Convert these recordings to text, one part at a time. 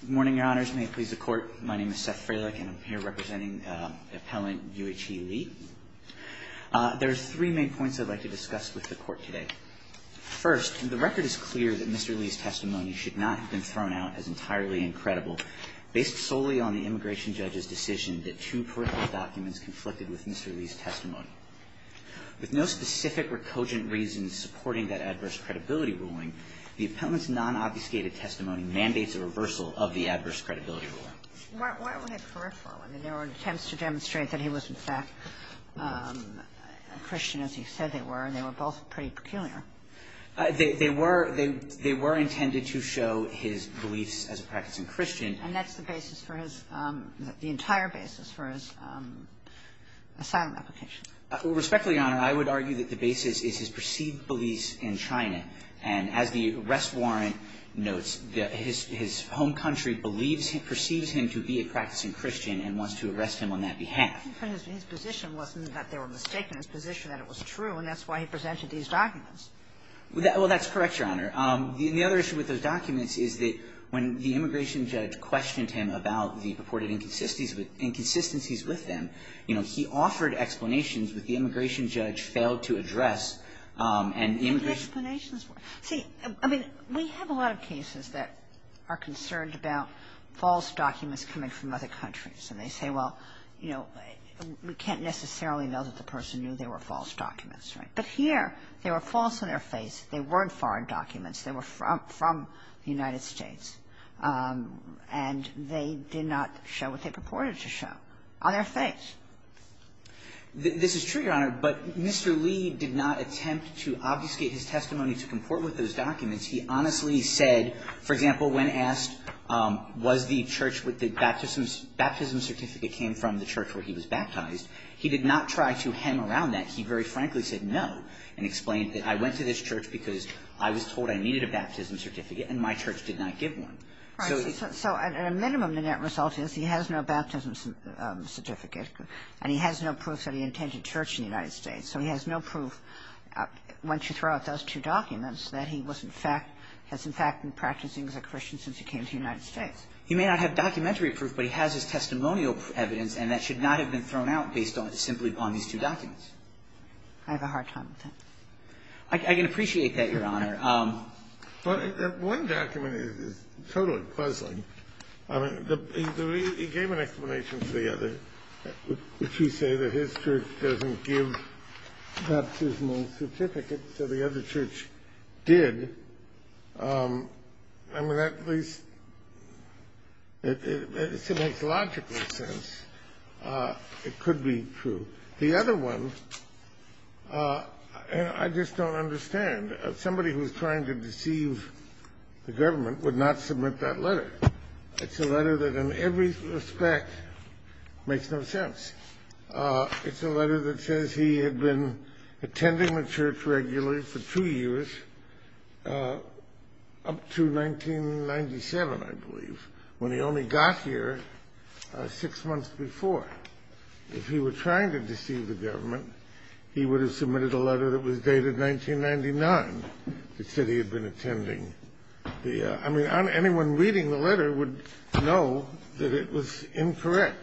Good morning, Your Honors. May it please the Court, my name is Seth Frelich and I'm here representing Appellant U.H.E. Lee. There are three main points I'd like to discuss with the Court today. First, the record is clear that Mr. Lee's testimony should not have been thrown out as entirely incredible, based solely on the Immigration Judge's decision that two parental documents conflicted with Mr. Lee's testimony. With no specific or cogent reasons supporting that adverse credibility ruling, the Appellant's non-obfuscated testimony mandates a reversal of the adverse credibility ruling. Why would it correct that? I mean, there were attempts to demonstrate that he was, in fact, a Christian, as he said they were, and they were both pretty peculiar. They were intended to show his beliefs as a practicing Christian. And that's the basis for his – the entire basis for his asylum application. Respectfully, Your Honor, I would argue that the basis is his perceived beliefs in China. And as the arrest warrant notes, his home country believes – perceives him to be a practicing Christian and wants to arrest him on that behalf. But his position wasn't that they were mistaken. His position that it was true, and that's why he presented these documents. Well, that's correct, Your Honor. The other issue with those documents is that when the Immigration Judge questioned him about the purported inconsistencies with them, you know, he offered explanations, but the Immigration Judge failed to address. And the Immigration – See, I mean, we have a lot of cases that are concerned about false documents coming from other countries. And they say, well, you know, we can't necessarily know that the person knew they were false documents, right? But here they were false on their face. They weren't foreign documents. They were from the United States. And they did not show what they purported to show on their face. This is true, Your Honor, but Mr. Lee did not attempt to obfuscate his testimony to comport with those documents. He honestly said, for example, when asked was the church with the baptism certificate came from the church where he was baptized, he did not try to hem around that. He very frankly said no and explained that I went to this church because I was told that I needed a baptism certificate and my church did not give one. So at a minimum, the net result is he has no baptism certificate and he has no proof that he attended church in the United States. So he has no proof, once you throw out those two documents, that he was in fact – has in fact been practicing as a Christian since he came to the United States. He may not have documentary proof, but he has his testimonial evidence and that should not have been thrown out based simply on these two documents. I have a hard time with that. I can appreciate that, Your Honor. But one document is totally puzzling. I mean, he gave an explanation for the other, which he said that his church doesn't give baptismal certificates, so the other church did. I mean, that at least – it makes logical sense. It could be true. The other one, I just don't understand. Somebody who is trying to deceive the government would not submit that letter. It's a letter that in every respect makes no sense. It's a letter that says he had been attending the church regularly for two years up to 1997, I believe, when he only got here six months before. If he were trying to deceive the government, he would have submitted a letter that was dated 1999 that said he had been attending the – I mean, anyone reading the letter would know that it was incorrect.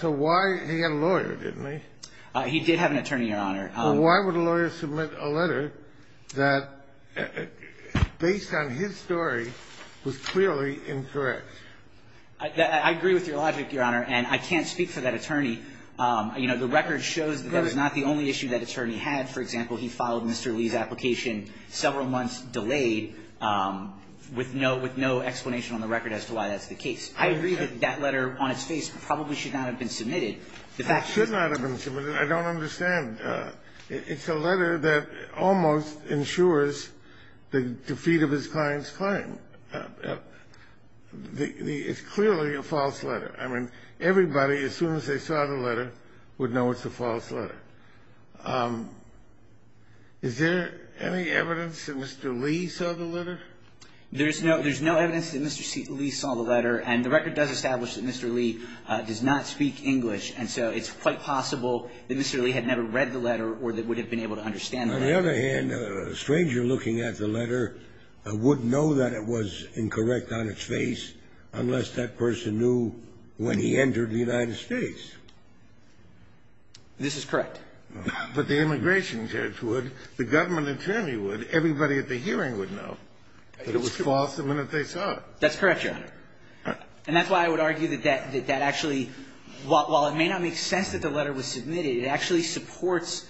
So why – he had a lawyer, didn't he? He did have an attorney, Your Honor. Well, why would a lawyer submit a letter that, based on his story, was clearly incorrect? I agree with your logic, Your Honor, and I can't speak for that attorney. You know, the record shows that that was not the only issue that attorney had. For example, he filed Mr. Lee's application several months delayed with no explanation on the record as to why that's the case. I agree that that letter on its face probably should not have been submitted. It should not have been submitted. I don't understand. It's a letter that almost ensures the defeat of his client's claim. It's clearly a false letter. I mean, everybody, as soon as they saw the letter, would know it's a false letter. Is there any evidence that Mr. Lee saw the letter? There's no evidence that Mr. Lee saw the letter, and the record does establish that Mr. Lee does not speak English, and so it's quite possible that Mr. Lee had never read the letter or that would have been able to understand the letter. On the other hand, a stranger looking at the letter would know that it was incorrect on its face unless that person knew when he entered the United States. This is correct. But the immigration judge would, the government attorney would, everybody at the hearing would know that it was false the minute they saw it. That's correct, Your Honor. And that's why I would argue that that actually, while it may not make sense that the letter was submitted, it actually supports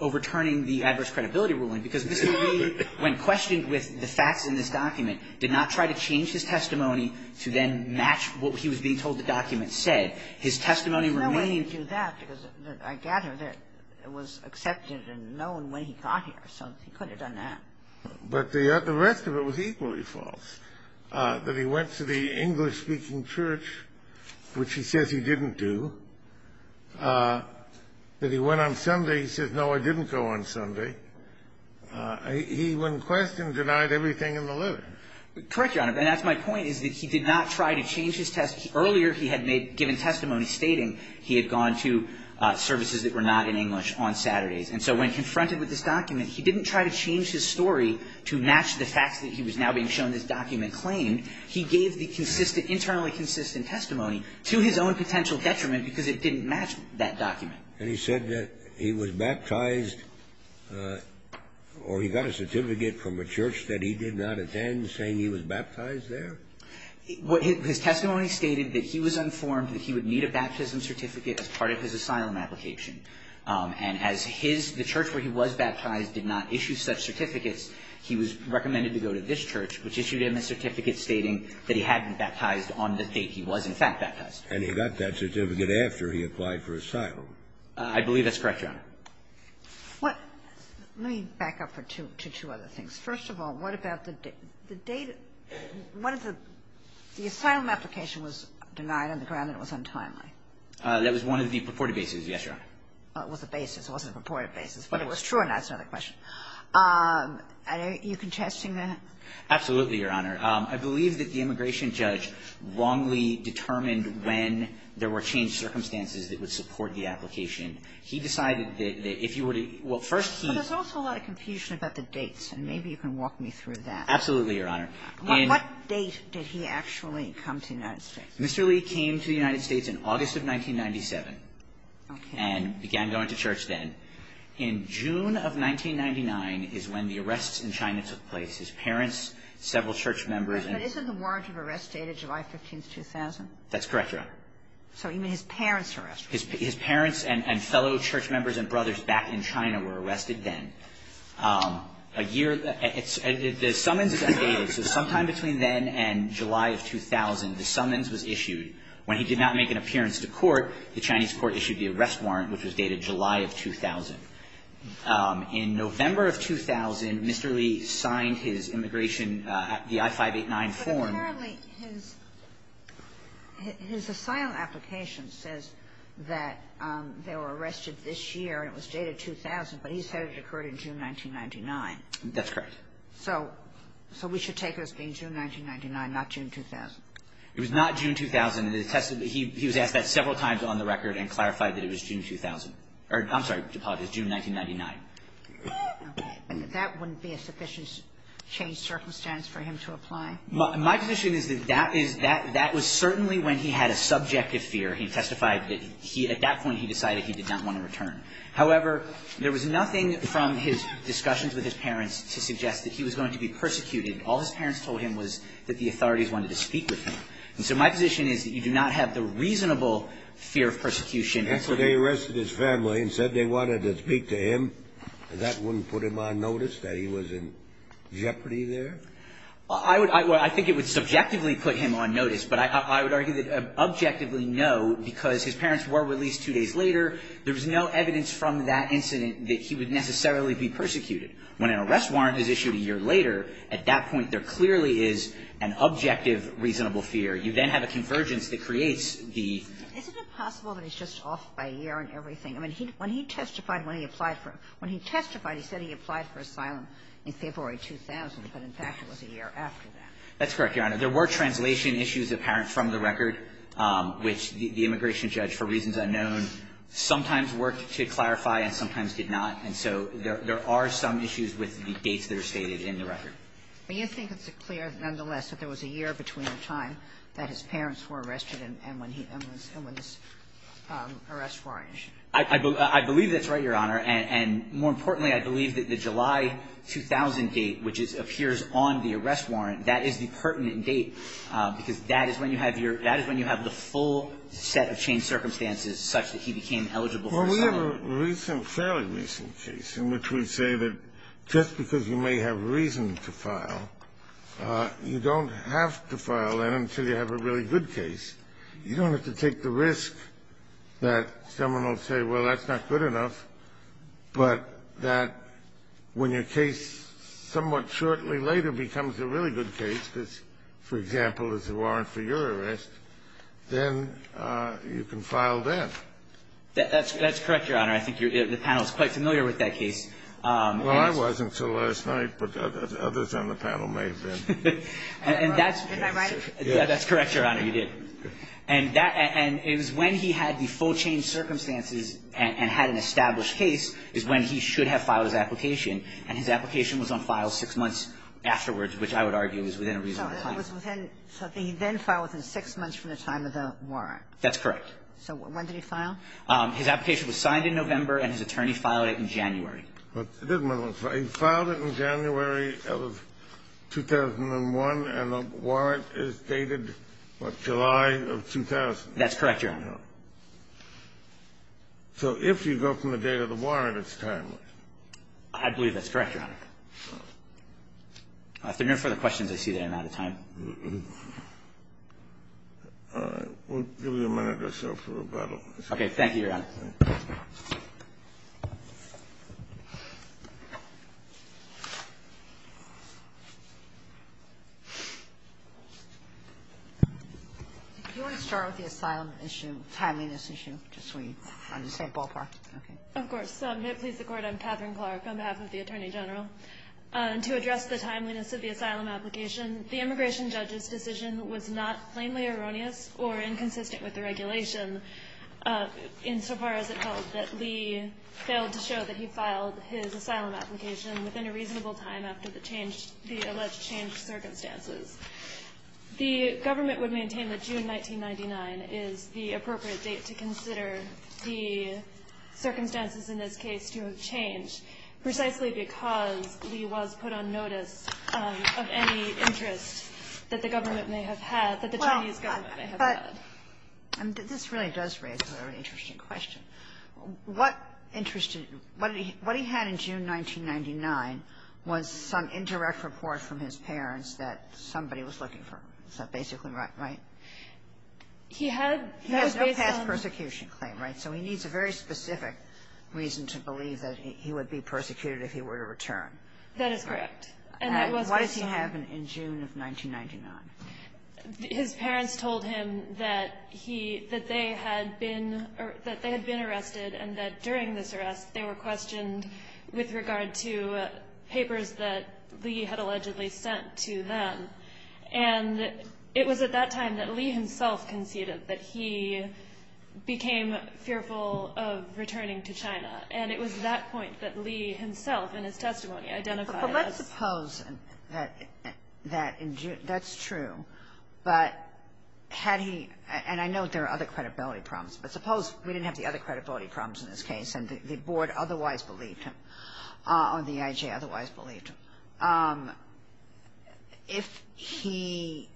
overturning the adverse credibility ruling, because Mr. Lee, when questioned with the facts in this document, did not try to change his testimony to then match what he was being told the document said. His testimony remained. There's no way he'd do that, because I gather that it was accepted and known when he got here, so he could have done that. But the rest of it was equally false, that he went to the English-speaking church, which he says he didn't do, that he went on Sunday. He says, no, I didn't go on Sunday. He, when questioned, denied everything in the letter. Correct, Your Honor. And that's my point, is that he did not try to change his testimony. Earlier, he had made, given testimony stating he had gone to services that were not in English on Saturdays. And so when confronted with this document, he didn't try to change his story to match the facts that he was now being shown this document claimed. He gave the consistent, internally consistent testimony to his own potential detriment, because it didn't match that document. And he said that he was baptized, or he got a certificate from a church that he did not attend, saying he was baptized there? His testimony stated that he was informed that he would need a baptism certificate as part of his asylum application. And as his, the church where he was baptized did not issue such certificates, he was recommended to go to this church, which issued him a certificate stating that he had been baptized on the date he was, in fact, baptized. And he got that certificate after he applied for asylum. I believe that's correct, Your Honor. Let me back up for two other things. First of all, what about the date? One of the, the asylum application was denied on the ground that it was untimely. That was one of the purported bases, yes, Your Honor. Well, it was a basis. It wasn't a purported basis. But it was true or not is another question. Are you contesting that? Absolutely, Your Honor. I believe that the immigration judge wrongly determined when there were changed circumstances that would support the application. He decided that if you were to – well, first he – But there's also a lot of confusion about the dates. And maybe you can walk me through that. Absolutely, Your Honor. What date did he actually come to the United States? Mr. Lee came to the United States in August of 1997. Okay. And began going to church then. In June of 1999 is when the arrests in China took place. His parents, several church members and – But isn't the warrant of arrest dated July 15th, 2000? That's correct, Your Honor. So even his parents were arrested. His parents and fellow church members and brothers back in China were arrested then. A year – the summons is undated. So sometime between then and July of 2000, the summons was issued. When he did not make an appearance to court, the Chinese court issued the arrest warrant, which was dated July of 2000. In November of 2000, Mr. Lee signed his immigration – the I-589 form. But apparently his – his asylum application says that they were arrested this year and it was dated 2000, but he said it occurred in June 1999. That's correct. So – so we should take it as being June 1999, not June 2000? It was not June 2000. It attested – he was asked that several times on the record and clarified that it was June 2000. I'm sorry to apologize. June 1999. Okay. And that wouldn't be a sufficient change of circumstance for him to apply? My position is that that is – that was certainly when he had a subjective fear. He testified that he – at that point he decided he did not want to return. However, there was nothing from his discussions with his parents to suggest that he was going to be persecuted. All his parents told him was that the authorities wanted to speak with him. And so my position is that you do not have the reasonable fear of persecution And so they arrested his family and said they wanted to speak to him, and that wouldn't put him on notice that he was in jeopardy there? I would – I think it would subjectively put him on notice, but I would argue that objectively no, because his parents were released two days later. There was no evidence from that incident that he would necessarily be persecuted. When an arrest warrant is issued a year later, at that point there clearly is an objective reasonable fear. You then have a convergence that creates the – Isn't it possible that he's just off by a year and everything? I mean, when he testified when he applied for – when he testified he said he applied for asylum in February 2000, but in fact it was a year after that. That's correct, Your Honor. There were translation issues apparent from the record, which the immigration judge, for reasons unknown, sometimes worked to clarify and sometimes did not. And so there are some issues with the dates that are stated in the record. But you think it's clear, nonetheless, that there was a year between the time that his parents were arrested and when he – and when this arrest warrant issued. I believe that's right, Your Honor. And more importantly, I believe that the July 2000 date, which appears on the arrest warrant, that is the pertinent date, because that is when you have your – that is when you have the full set of changed circumstances such that he became eligible for asylum. Well, we have a recent – fairly recent case in which we say that just because you may have reason to file, you don't have to file then until you have a really good case. You don't have to take the risk that someone will say, well, that's not good enough, but that when your case somewhat shortly later becomes a really good case, because, for example, it's a warrant for your arrest, then you can file then. That's correct, Your Honor. I think the panel is quite familiar with that case. Well, I wasn't until last night, but others on the panel may have been. And that's – Am I right? That's correct, Your Honor. You did. And that – and it was when he had the full changed circumstances and had an established case is when he should have filed his application. And his application was on file six months afterwards, which I would argue is within a reasonable time. So it was within – so he then filed within six months from the time of the warrant. That's correct. So when did he file? His application was signed in November, and his attorney filed it in January. He filed it in January of 2001, and the warrant is dated, what, July of 2000? That's correct, Your Honor. So if you go from the date of the warrant, it's timely. I believe that's correct, Your Honor. If there are no further questions, I see that I'm out of time. All right. We'll give you a minute or so for rebuttal. Thank you, Your Honor. Do you want to start with the asylum issue, timeliness issue, just so we understand ballpark? Okay. Of course. May it please the Court, I'm Katherine Clark on behalf of the Attorney General. To address the timeliness of the asylum application, the immigration judge's decision was not plainly erroneous or inconsistent with the regulation insofar as it held that Lee failed to show that he filed his asylum application within a reasonable time after the alleged changed circumstances. The government would maintain that June 1999 is the appropriate date to consider the circumstances in this case to have changed precisely because Lee was put on notice of any interest that the government may have had, that the Chinese government may have had. This really does raise a very interesting question. What he had in June 1999 was some indirect report from his parents that somebody was looking for him. Is that basically right? He had no past persecution claim, right? So he needs a very specific reason to believe that he would be persecuted if he were to return. That is correct. Why does he have it in June of 1999? His parents told him that he – that they had been – that they had been arrested and that during this arrest they were questioned with regard to papers that Lee had allegedly sent to them. And it was at that time that Lee himself conceded that he became fearful of returning to China. And it was at that point that Lee himself in his testimony identified as – Well, let's suppose that in June – that's true. But had he – and I know there are other credibility problems, but suppose we didn't have the other credibility problems in this case and the Board otherwise believed him or the EIJ otherwise believed him. If he,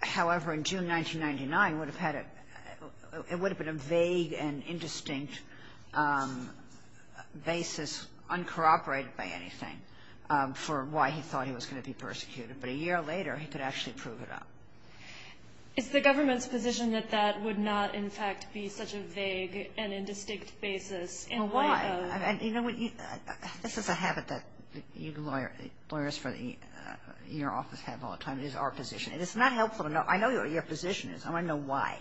however, in June 1999 would have had a – it would have been a vague and indistinct basis in light of – Well, why? I mean, you know, this is a habit that lawyers for your office have all the time is our position. And it's not helpful to know – I know what your position is. I want to know why.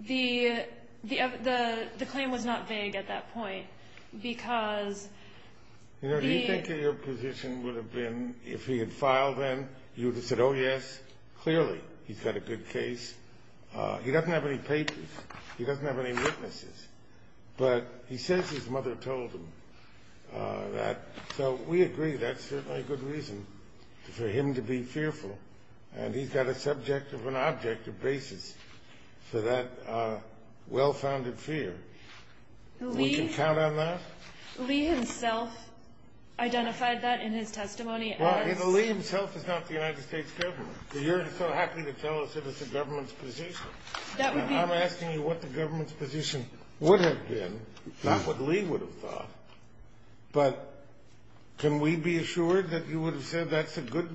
The claim was not vague at that point because the – You know, do you think that your point is – Yes. been – if he had filed then, you would have said, oh, yes, clearly he's got a good case. He doesn't have any papers. He doesn't have any witnesses. But he says his mother told him that. So we agree that's certainly a good reason for him to be fearful. And he's got a subject of an objective basis for that well-founded fear. We can count on that? Lee himself identified that in his testimony as – Well, you know, Lee himself is not the United States government. You're so happy to tell us it is the government's position. That would be – I'm asking you what the government's position would have been, not what Lee would have thought. But can we be assured that you would have said that's a good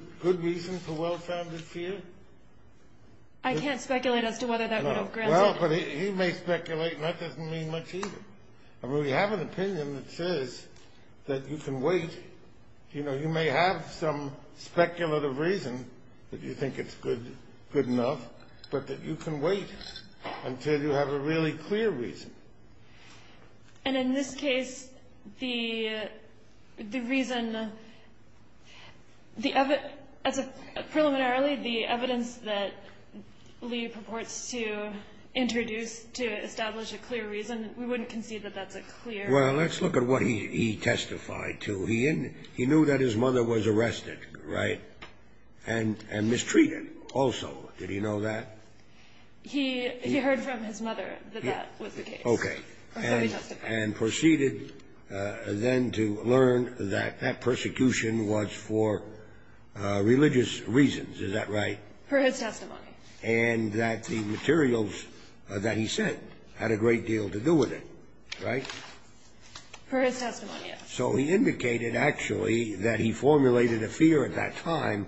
reason for well-founded fear? I can't speculate as to whether that would have granted – No. Well, but he may speculate, and that doesn't mean much either. I mean, we have an opinion that says that you can wait. You know, you may have some speculative reason that you think it's good enough, but that you can wait until you have a really clear reason. And in this case, the reason – as a – preliminarily, the evidence that Lee purports to introduce to establish a clear reason, we wouldn't concede that that's a clear – Well, let's look at what he testified to. He knew that his mother was arrested, right, and mistreated also. Did he know that? He heard from his mother that that was the case. Okay. And proceeded then to learn that that persecution was for religious reasons. Is that right? For his testimony. And that the materials that he sent had a great deal to do with it, right? For his testimony, yes. So he indicated, actually, that he formulated a fear at that time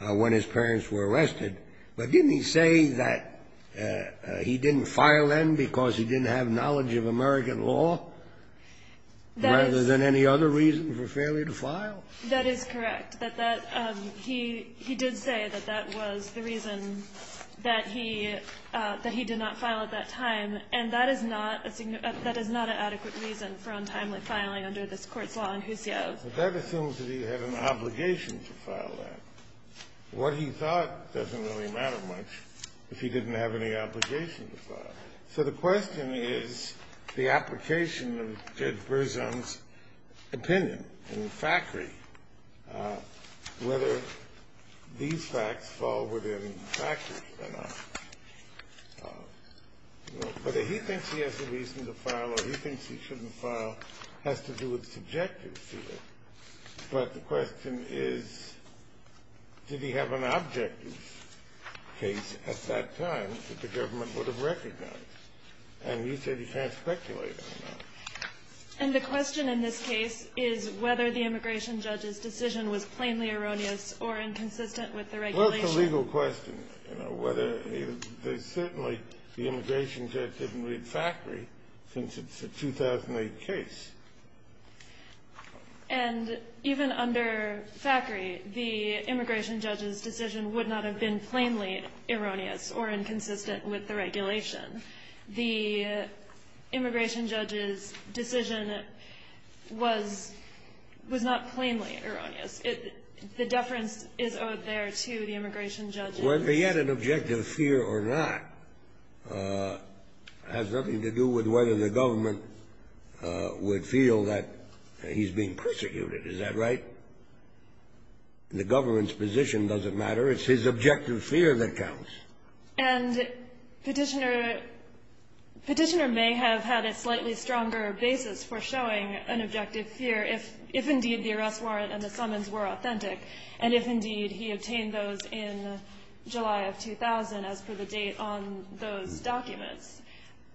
when his parents were arrested, but didn't he say that he didn't file then because he didn't have knowledge of American law rather than any other reason for failure to file? That is correct. He did say that that was the reason that he – that he did not file at that time, and that is not a – that is not an adequate reason for untimely filing under this Court's law in Hussio. But that assumes that he had an obligation to file that. What he thought doesn't really matter much if he didn't have any obligation to file. So the question is the application of Judge Berzon's opinion in the factory, whether these facts fall within the factory or not. Whether he thinks he has a reason to file or he thinks he shouldn't file has to do with subjective fear. But the question is, did he have an objective case at that time that the government would have recognized? And you said he can't speculate on that. And the question in this case is whether the immigration judge's decision was plainly erroneous or inconsistent with the regulation. Well, it's a legal question, you know, whether he – there's certainly – the immigration judge didn't read factory since it's a 2008 case. And even under factory, the immigration judge's decision would not have been plainly erroneous or inconsistent with the regulation. The immigration judge's decision was – was not plainly erroneous. The deference is owed there to the immigration judge. Whether he had an objective fear or not has nothing to do with whether the government would feel that he's being persecuted. Is that right? The government's position doesn't matter. It's his objective fear that counts. And Petitioner – Petitioner may have had a slightly stronger basis for showing an objective fear if indeed the arrest warrant and the summons were authentic, and if indeed he obtained those in July of 2000 as per the date on those documents.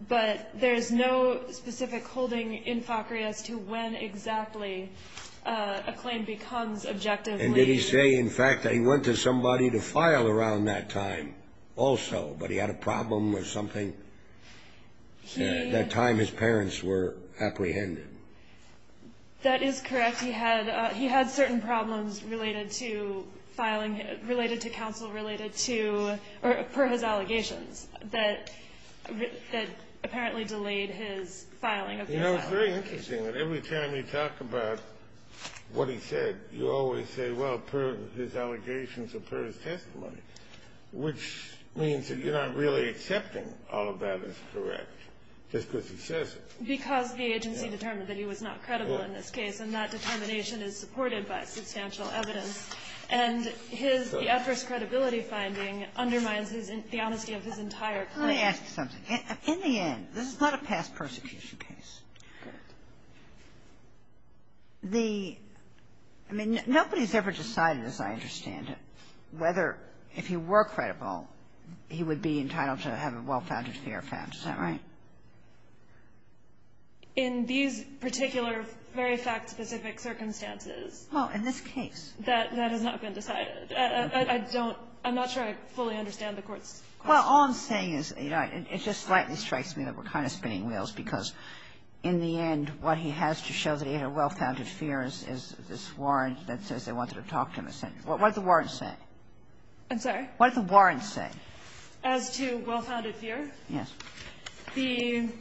But there's no specific holding in factory as to when exactly a claim becomes objective. And did he say, in fact, that he went to somebody to file around that time also, but he had a problem with something at that time his parents were apprehended? That is correct. He had – he had certain problems related to filing – related to counsel, related to – that apparently delayed his filing of the asylum. You know, it's very interesting that every time you talk about what he said, you always say, well, per his allegations or per his testimony, which means that you're not really accepting all of that is correct just because he says it. Because the agency determined that he was not credible in this case, and that determination is supported by substantial evidence. And his – the adverse credibility finding undermines his – the honesty of his entire claim. Let me ask you something. In the end, this is not a past persecution case. Correct. The – I mean, nobody's ever decided, as I understand it, whether if he were credible, he would be entitled to have a well-founded fear found. Is that right? In these particular very fact-specific circumstances. Oh, in this case. That has not been decided. I don't – I'm not sure I fully understand the Court's question. Well, all I'm saying is, you know, it just slightly strikes me that we're kind of spinning wheels, because in the end, what he has to show that he had a well-founded fear is this warrant that says they wanted to talk to him. What did the warrant say? I'm sorry? What did the warrant say? As to well-founded fear? Yes. The –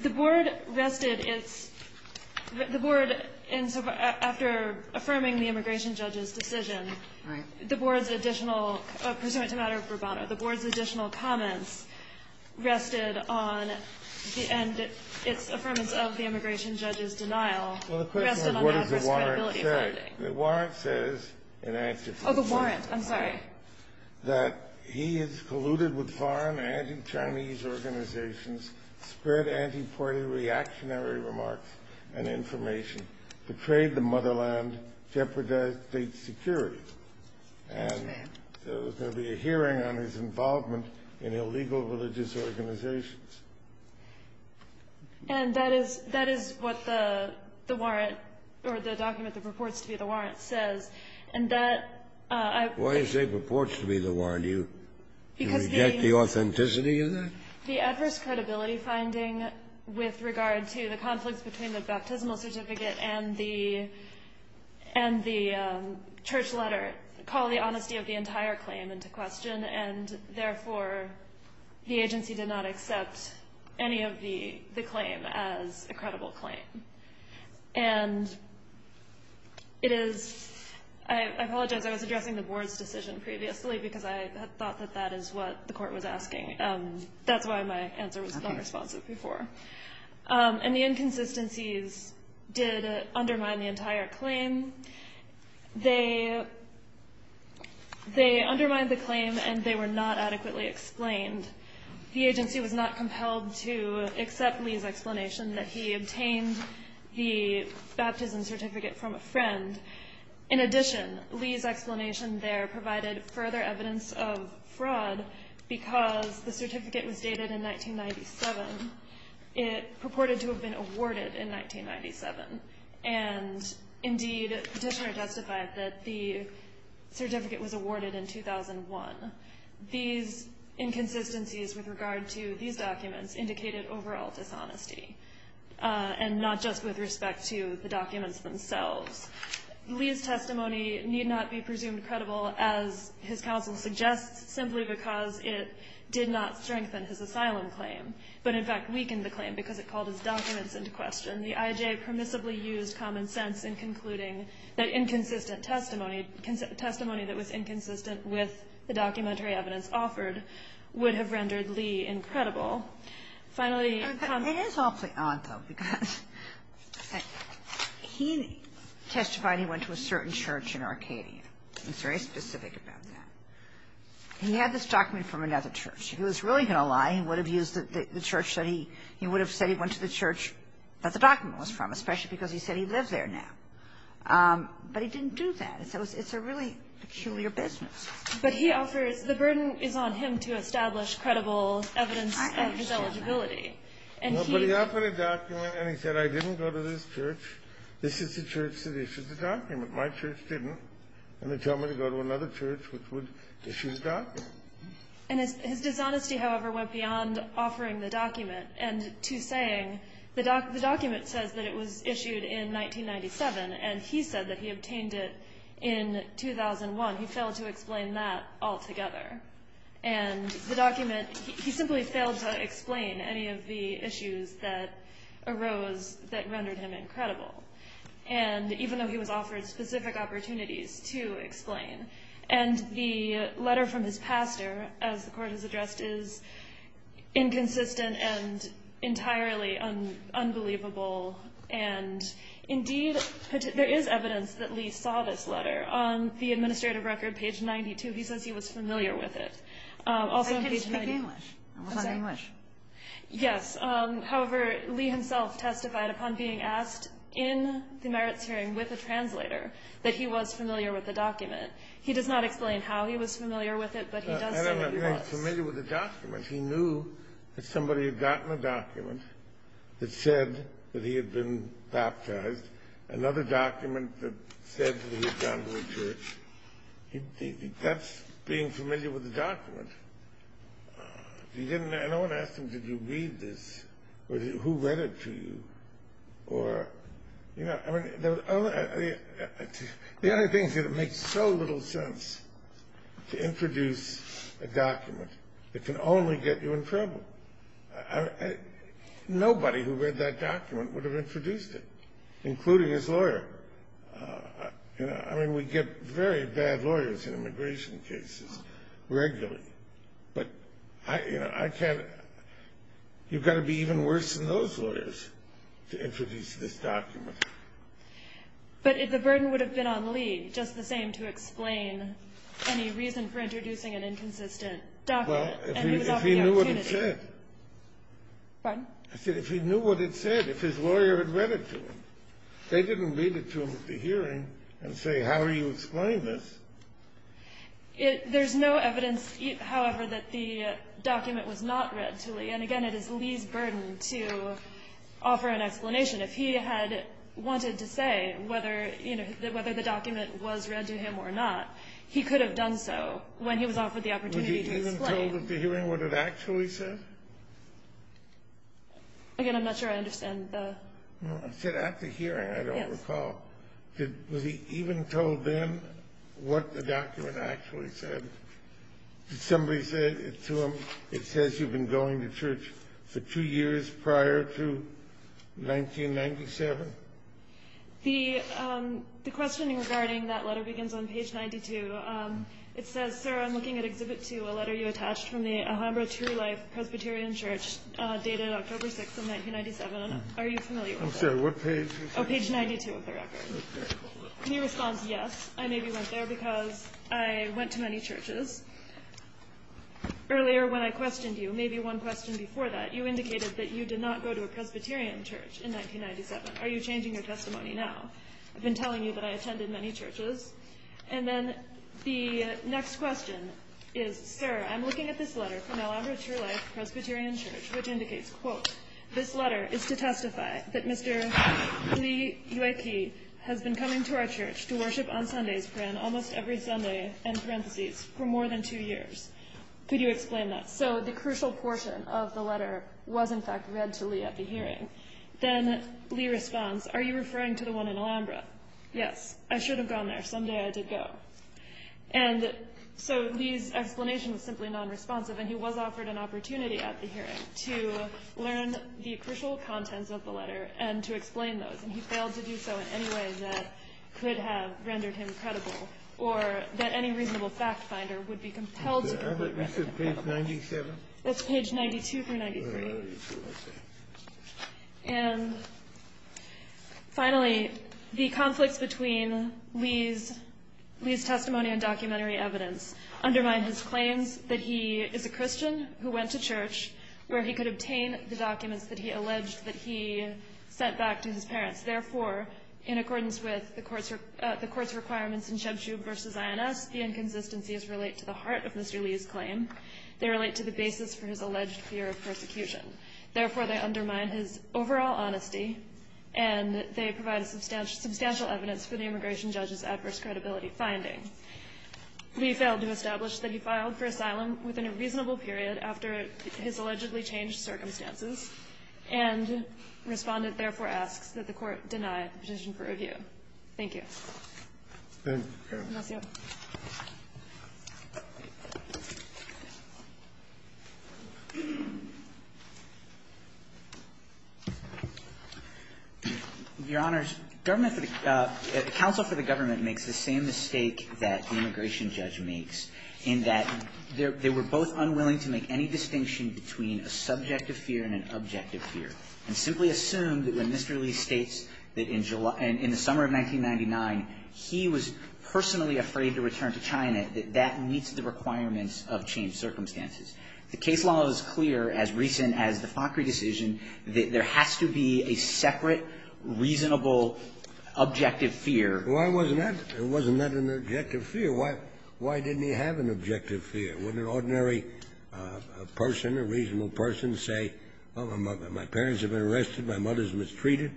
the board rested its – the board, in – after affirming the immigration judge's decision, the board's additional – pursuant to matter of bravado, the board's additional comments rested on the – and its affirmance of the immigration judge's denial rested on the adverse credibility finding. Well, the question is, what does the warrant say? The warrant says, in answer to the question. Oh, the warrant. I'm sorry. That he has colluded with foreign and anti-Chinese organizations, spread anti-party reactionary remarks and information, betrayed the motherland, jeopardized state security. Yes, ma'am. And there was going to be a hearing on his involvement in illegal religious organizations. And that is – that is what the warrant – or the document that purports to be the warrant says. And that I – Why does it purport to be the warrant? Do you reject the authenticity of that? Because the – the adverse credibility finding with regard to the conflicts between the baptismal certificate and the – and the church letter called the honesty of the entire claim into question. And therefore, the agency did not accept any of the – the claim as a credible claim. And it is – I apologize. I was addressing the board's decision previously because I thought that that is what the court was asking. That's why my answer was not responsive before. Okay. And the inconsistencies did undermine the entire claim. They – they undermined the claim and they were not adequately explained. The agency was not compelled to accept Lee's explanation that he obtained the baptism certificate from a friend. In addition, Lee's explanation there provided further evidence of fraud because the certificate was dated in 1997. It purported to have been awarded in 1997. And indeed, the petitioner justified that the certificate was awarded in 2001. These inconsistencies with regard to these documents indicated overall dishonesty and not just with respect to the documents themselves. Lee's testimony need not be presumed credible, as his counsel suggests, simply because it did not strengthen his asylum claim but, in fact, weakened the claim because it called his documents into question. The IJ permissibly used common sense in concluding that inconsistent testimony, testimony that was inconsistent with the documentary evidence offered would have rendered Lee incredible. Finally – It is awfully odd, though, because he testified he went to a certain church in Arcadia. He was very specific about that. He had this document from another church. If he was really going to lie, he would have used the church that he – he would have said he went to the church that the document was from, especially because he said he lived there now. But he didn't do that. It's a really peculiar business. But he offers – the burden is on him to establish credible evidence of his eligibility. And he – But he offered a document and he said, I didn't go to this church. This is the church that issued the document. My church didn't. And they tell me to go to another church which would issue the document. And his dishonesty, however, went beyond offering the document and to saying the document says that it was issued in 1997 and he said that he obtained it in 2001. He failed to explain that altogether. And the document – he simply failed to explain any of the issues that arose that rendered him incredible. And even though he was offered specific opportunities to explain. And the letter from his pastor, as the court has addressed, is inconsistent and entirely unbelievable. And, indeed, there is evidence that Lee saw this letter. On the administrative record, page 92, he says he was familiar with it. Also on page 90 – It's in English. It was in English. Yes. However, Lee himself testified upon being asked in the merits hearing with a translator that he was familiar with the document. He does not explain how he was familiar with it, but he does say that he was. I don't know if he was familiar with the document. He knew that somebody had gotten a document that said that he had been baptized, another document that said that he had gone to a church. That's being familiar with the document. No one asked him, did you read this? Who read it to you? The only thing is that it makes so little sense to introduce a document. It can only get you in trouble. Nobody who read that document would have introduced it, including his lawyer. I mean, we get very bad lawyers in immigration cases regularly. But, you know, I can't – you've got to be even worse than those lawyers to introduce this document. But the burden would have been on Lee just the same to explain any reason for introducing an inconsistent document. Well, if he knew what it said. Pardon? I said if he knew what it said, if his lawyer had read it to him. They didn't read it to him at the hearing and say, how do you explain this? There's no evidence, however, that the document was not read to Lee. And, again, it is Lee's burden to offer an explanation. If he had wanted to say whether, you know, whether the document was read to him or not, he could have done so when he was offered the opportunity to explain. Was he even told at the hearing what it actually said? Again, I'm not sure I understand the – I said at the hearing, I don't recall. Yes. Was he even told then what the document actually said? Did somebody say to him, it says you've been going to church for two years prior to 1997? The questioning regarding that letter begins on page 92. It says, sir, I'm looking at Exhibit 2, a letter you attached from the Alhambra True Life Presbyterian Church dated October 6th of 1997. Are you familiar with that? I'm sorry, what page was that? Oh, page 92 of the record. And he responds, yes, I maybe went there because I went to many churches. Earlier when I questioned you, maybe one question before that, you indicated that you did not go to a Presbyterian church in 1997. Are you changing your testimony now? I've been telling you that I attended many churches. And then the next question is, sir, I'm looking at this letter from Alhambra True Life Presbyterian Church, which indicates, quote, this letter is to testify that Mr. Lee Ueki has been coming to our church to worship on Sundays for almost every Sunday, end parentheses, for more than two years. Could you explain that? So the crucial portion of the letter was, in fact, read to Lee at the hearing. Then Lee responds, are you referring to the one in Alhambra? Yes, I should have gone there. Someday I did go. And so Lee's explanation was simply nonresponsive. And he was offered an opportunity at the hearing to learn the crucial contents of the letter and to explain those. And he failed to do so in any way that could have rendered him credible or that any reasonable fact finder would be compelled to go look at. Is that page 97? That's page 92 through 93. And finally, the conflicts between Lee's testimony and documentary evidence undermine his claims that he is a Christian who went to church where he could obtain the documents that he alleged that he sent back to his parents. Therefore, in accordance with the court's requirements in Sheb Shub v. INS, the inconsistencies relate to the heart of Mr. Lee's claim. They relate to the basis for his alleged fear of persecution. Therefore, they undermine his overall honesty, and they provide substantial evidence for the immigration judge's adverse credibility finding. Lee failed to establish that he filed for asylum within a reasonable period after his allegedly changed circumstances, and Respondent therefore asks that the Court deny the petition for review. Thank you. Thank you. Your Honors, government for the – counsel for the government makes the same mistake that the immigration judge makes in that they were both unwilling to make any distinction between a subjective fear and an objective fear, and simply assume that when Mr. Lee states that in July – in the summer of 1999, he was personally afraid to return to China, that that meets the requirements of changed circumstances. The case law is clear, as recent as the Fockery decision, that there has to be a separate, reasonable, objective fear. Why wasn't that – wasn't that an objective fear? Why – why didn't he have an objective fear? When an ordinary person, a reasonable person, say, well, my parents have been arrested, my mother's mistreated,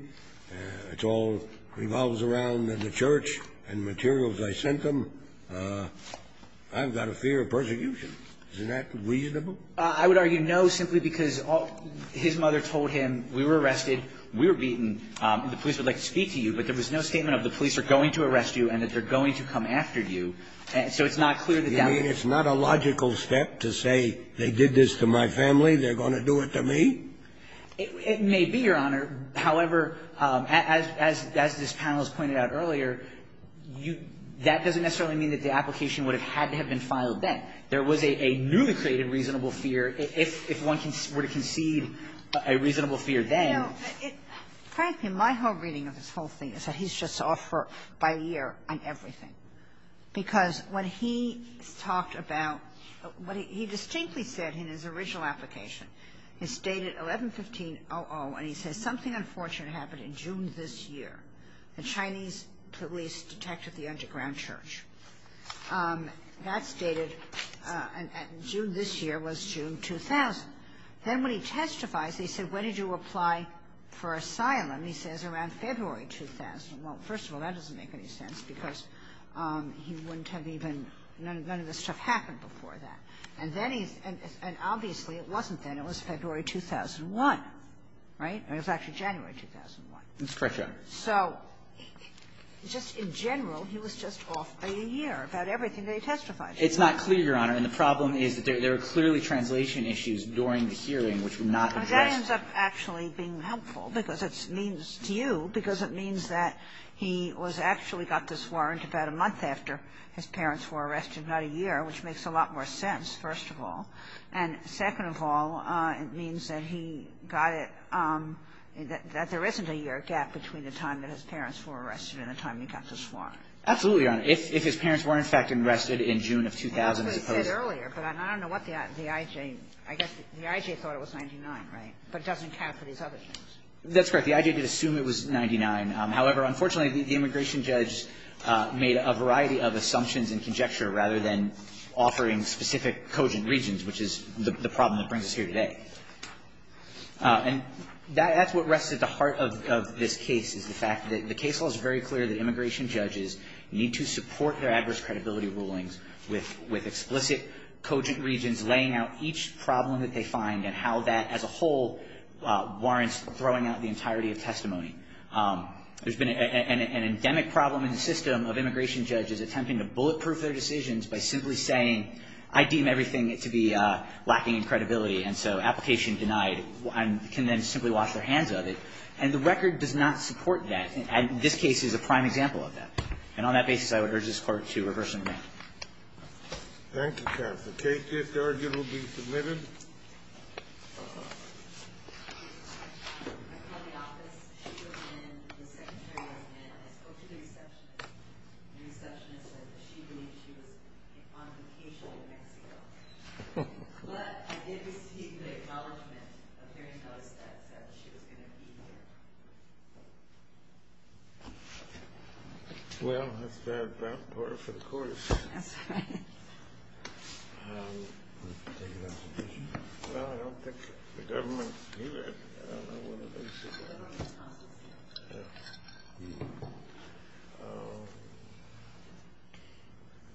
it all revolves around the church and materials I sent them, I've got a fear of persecution. Isn't that reasonable? I would argue no, simply because his mother told him, we were arrested, we were beaten, and the police would like to speak to you. But there was no statement of the police are going to arrest you and that they're going to come after you. And so it's not clear that that would be the case. You mean it's not a logical step to say they did this to my family, they're going to do it to me? It may be, Your Honor. However, as this panel has pointed out earlier, you – that doesn't necessarily mean that the application would have had to have been filed then. There was a newly created reasonable fear. If one were to concede a reasonable fear then – You know, it – frankly, my whole reading of this whole thing is that he's just off by a year on everything. Because when he talked about – he distinctly said in his original application, it's dated 11-15-00, and he says something unfortunate happened in June this year. The Chinese police detected the underground church. That's dated – June this year was June 2000. Then when he testifies, he said, when did you apply for asylum? He says around February 2000. Well, first of all, that doesn't make any sense because he wouldn't have even – none of this stuff happened before that. And then he's – and obviously it wasn't then. It was February 2001, right? I mean, it was actually January 2001. That's correct, Your Honor. So just in general, he was just off by a year about everything that he testified to. It's not clear, Your Honor. And the problem is that there were clearly translation issues during the hearing which were not addressed. Well, that ends up actually being helpful because it means – to you, because it means that he was actually got the swarrant about a month after his parents were arrested, not a year, which makes a lot more sense, first of all. And second of all, it means that he got it – that there isn't a year gap between the time that his parents were arrested and the time he got the swarrant. Absolutely, Your Honor. If his parents were, in fact, arrested in June of 2000, I suppose. I said earlier, but I don't know what the I.J. I guess the I.J. thought it was 99, right? But it doesn't count for these other things. That's correct. The I.J. did assume it was 99. However, unfortunately, the immigration judge made a variety of assumptions and conjecture rather than offering specific cogent regions, which is the problem that brings us here today. And that's what rests at the heart of this case is the fact that the case law is very clear that immigration judges need to support their adverse credibility rulings with explicit cogent regions laying out each problem that they find and how that as a whole warrants throwing out the entirety of testimony. There's been an endemic problem in the system of immigration judges attempting to bulletproof their decisions by simply saying, I deem everything to be lacking in credibility, and so application denied, and can then simply wash their hands of it. And the record does not support that. And this case is a prime example of that. And on that basis, I would urge this Court to reverse endowment. Thank you, counsel. Kate, this argument will be submitted. I called the office. She wasn't in. The secretary wasn't in. I spoke to the receptionist. The receptionist said that she believed she was on vacation in Mexico. But I did receive the acknowledgment of hearing those that said that she was going to be here. Well, that's bad rapport for the Court of Appeals. That's right. Well, I don't think the government can do that. I don't know what the basis of that is.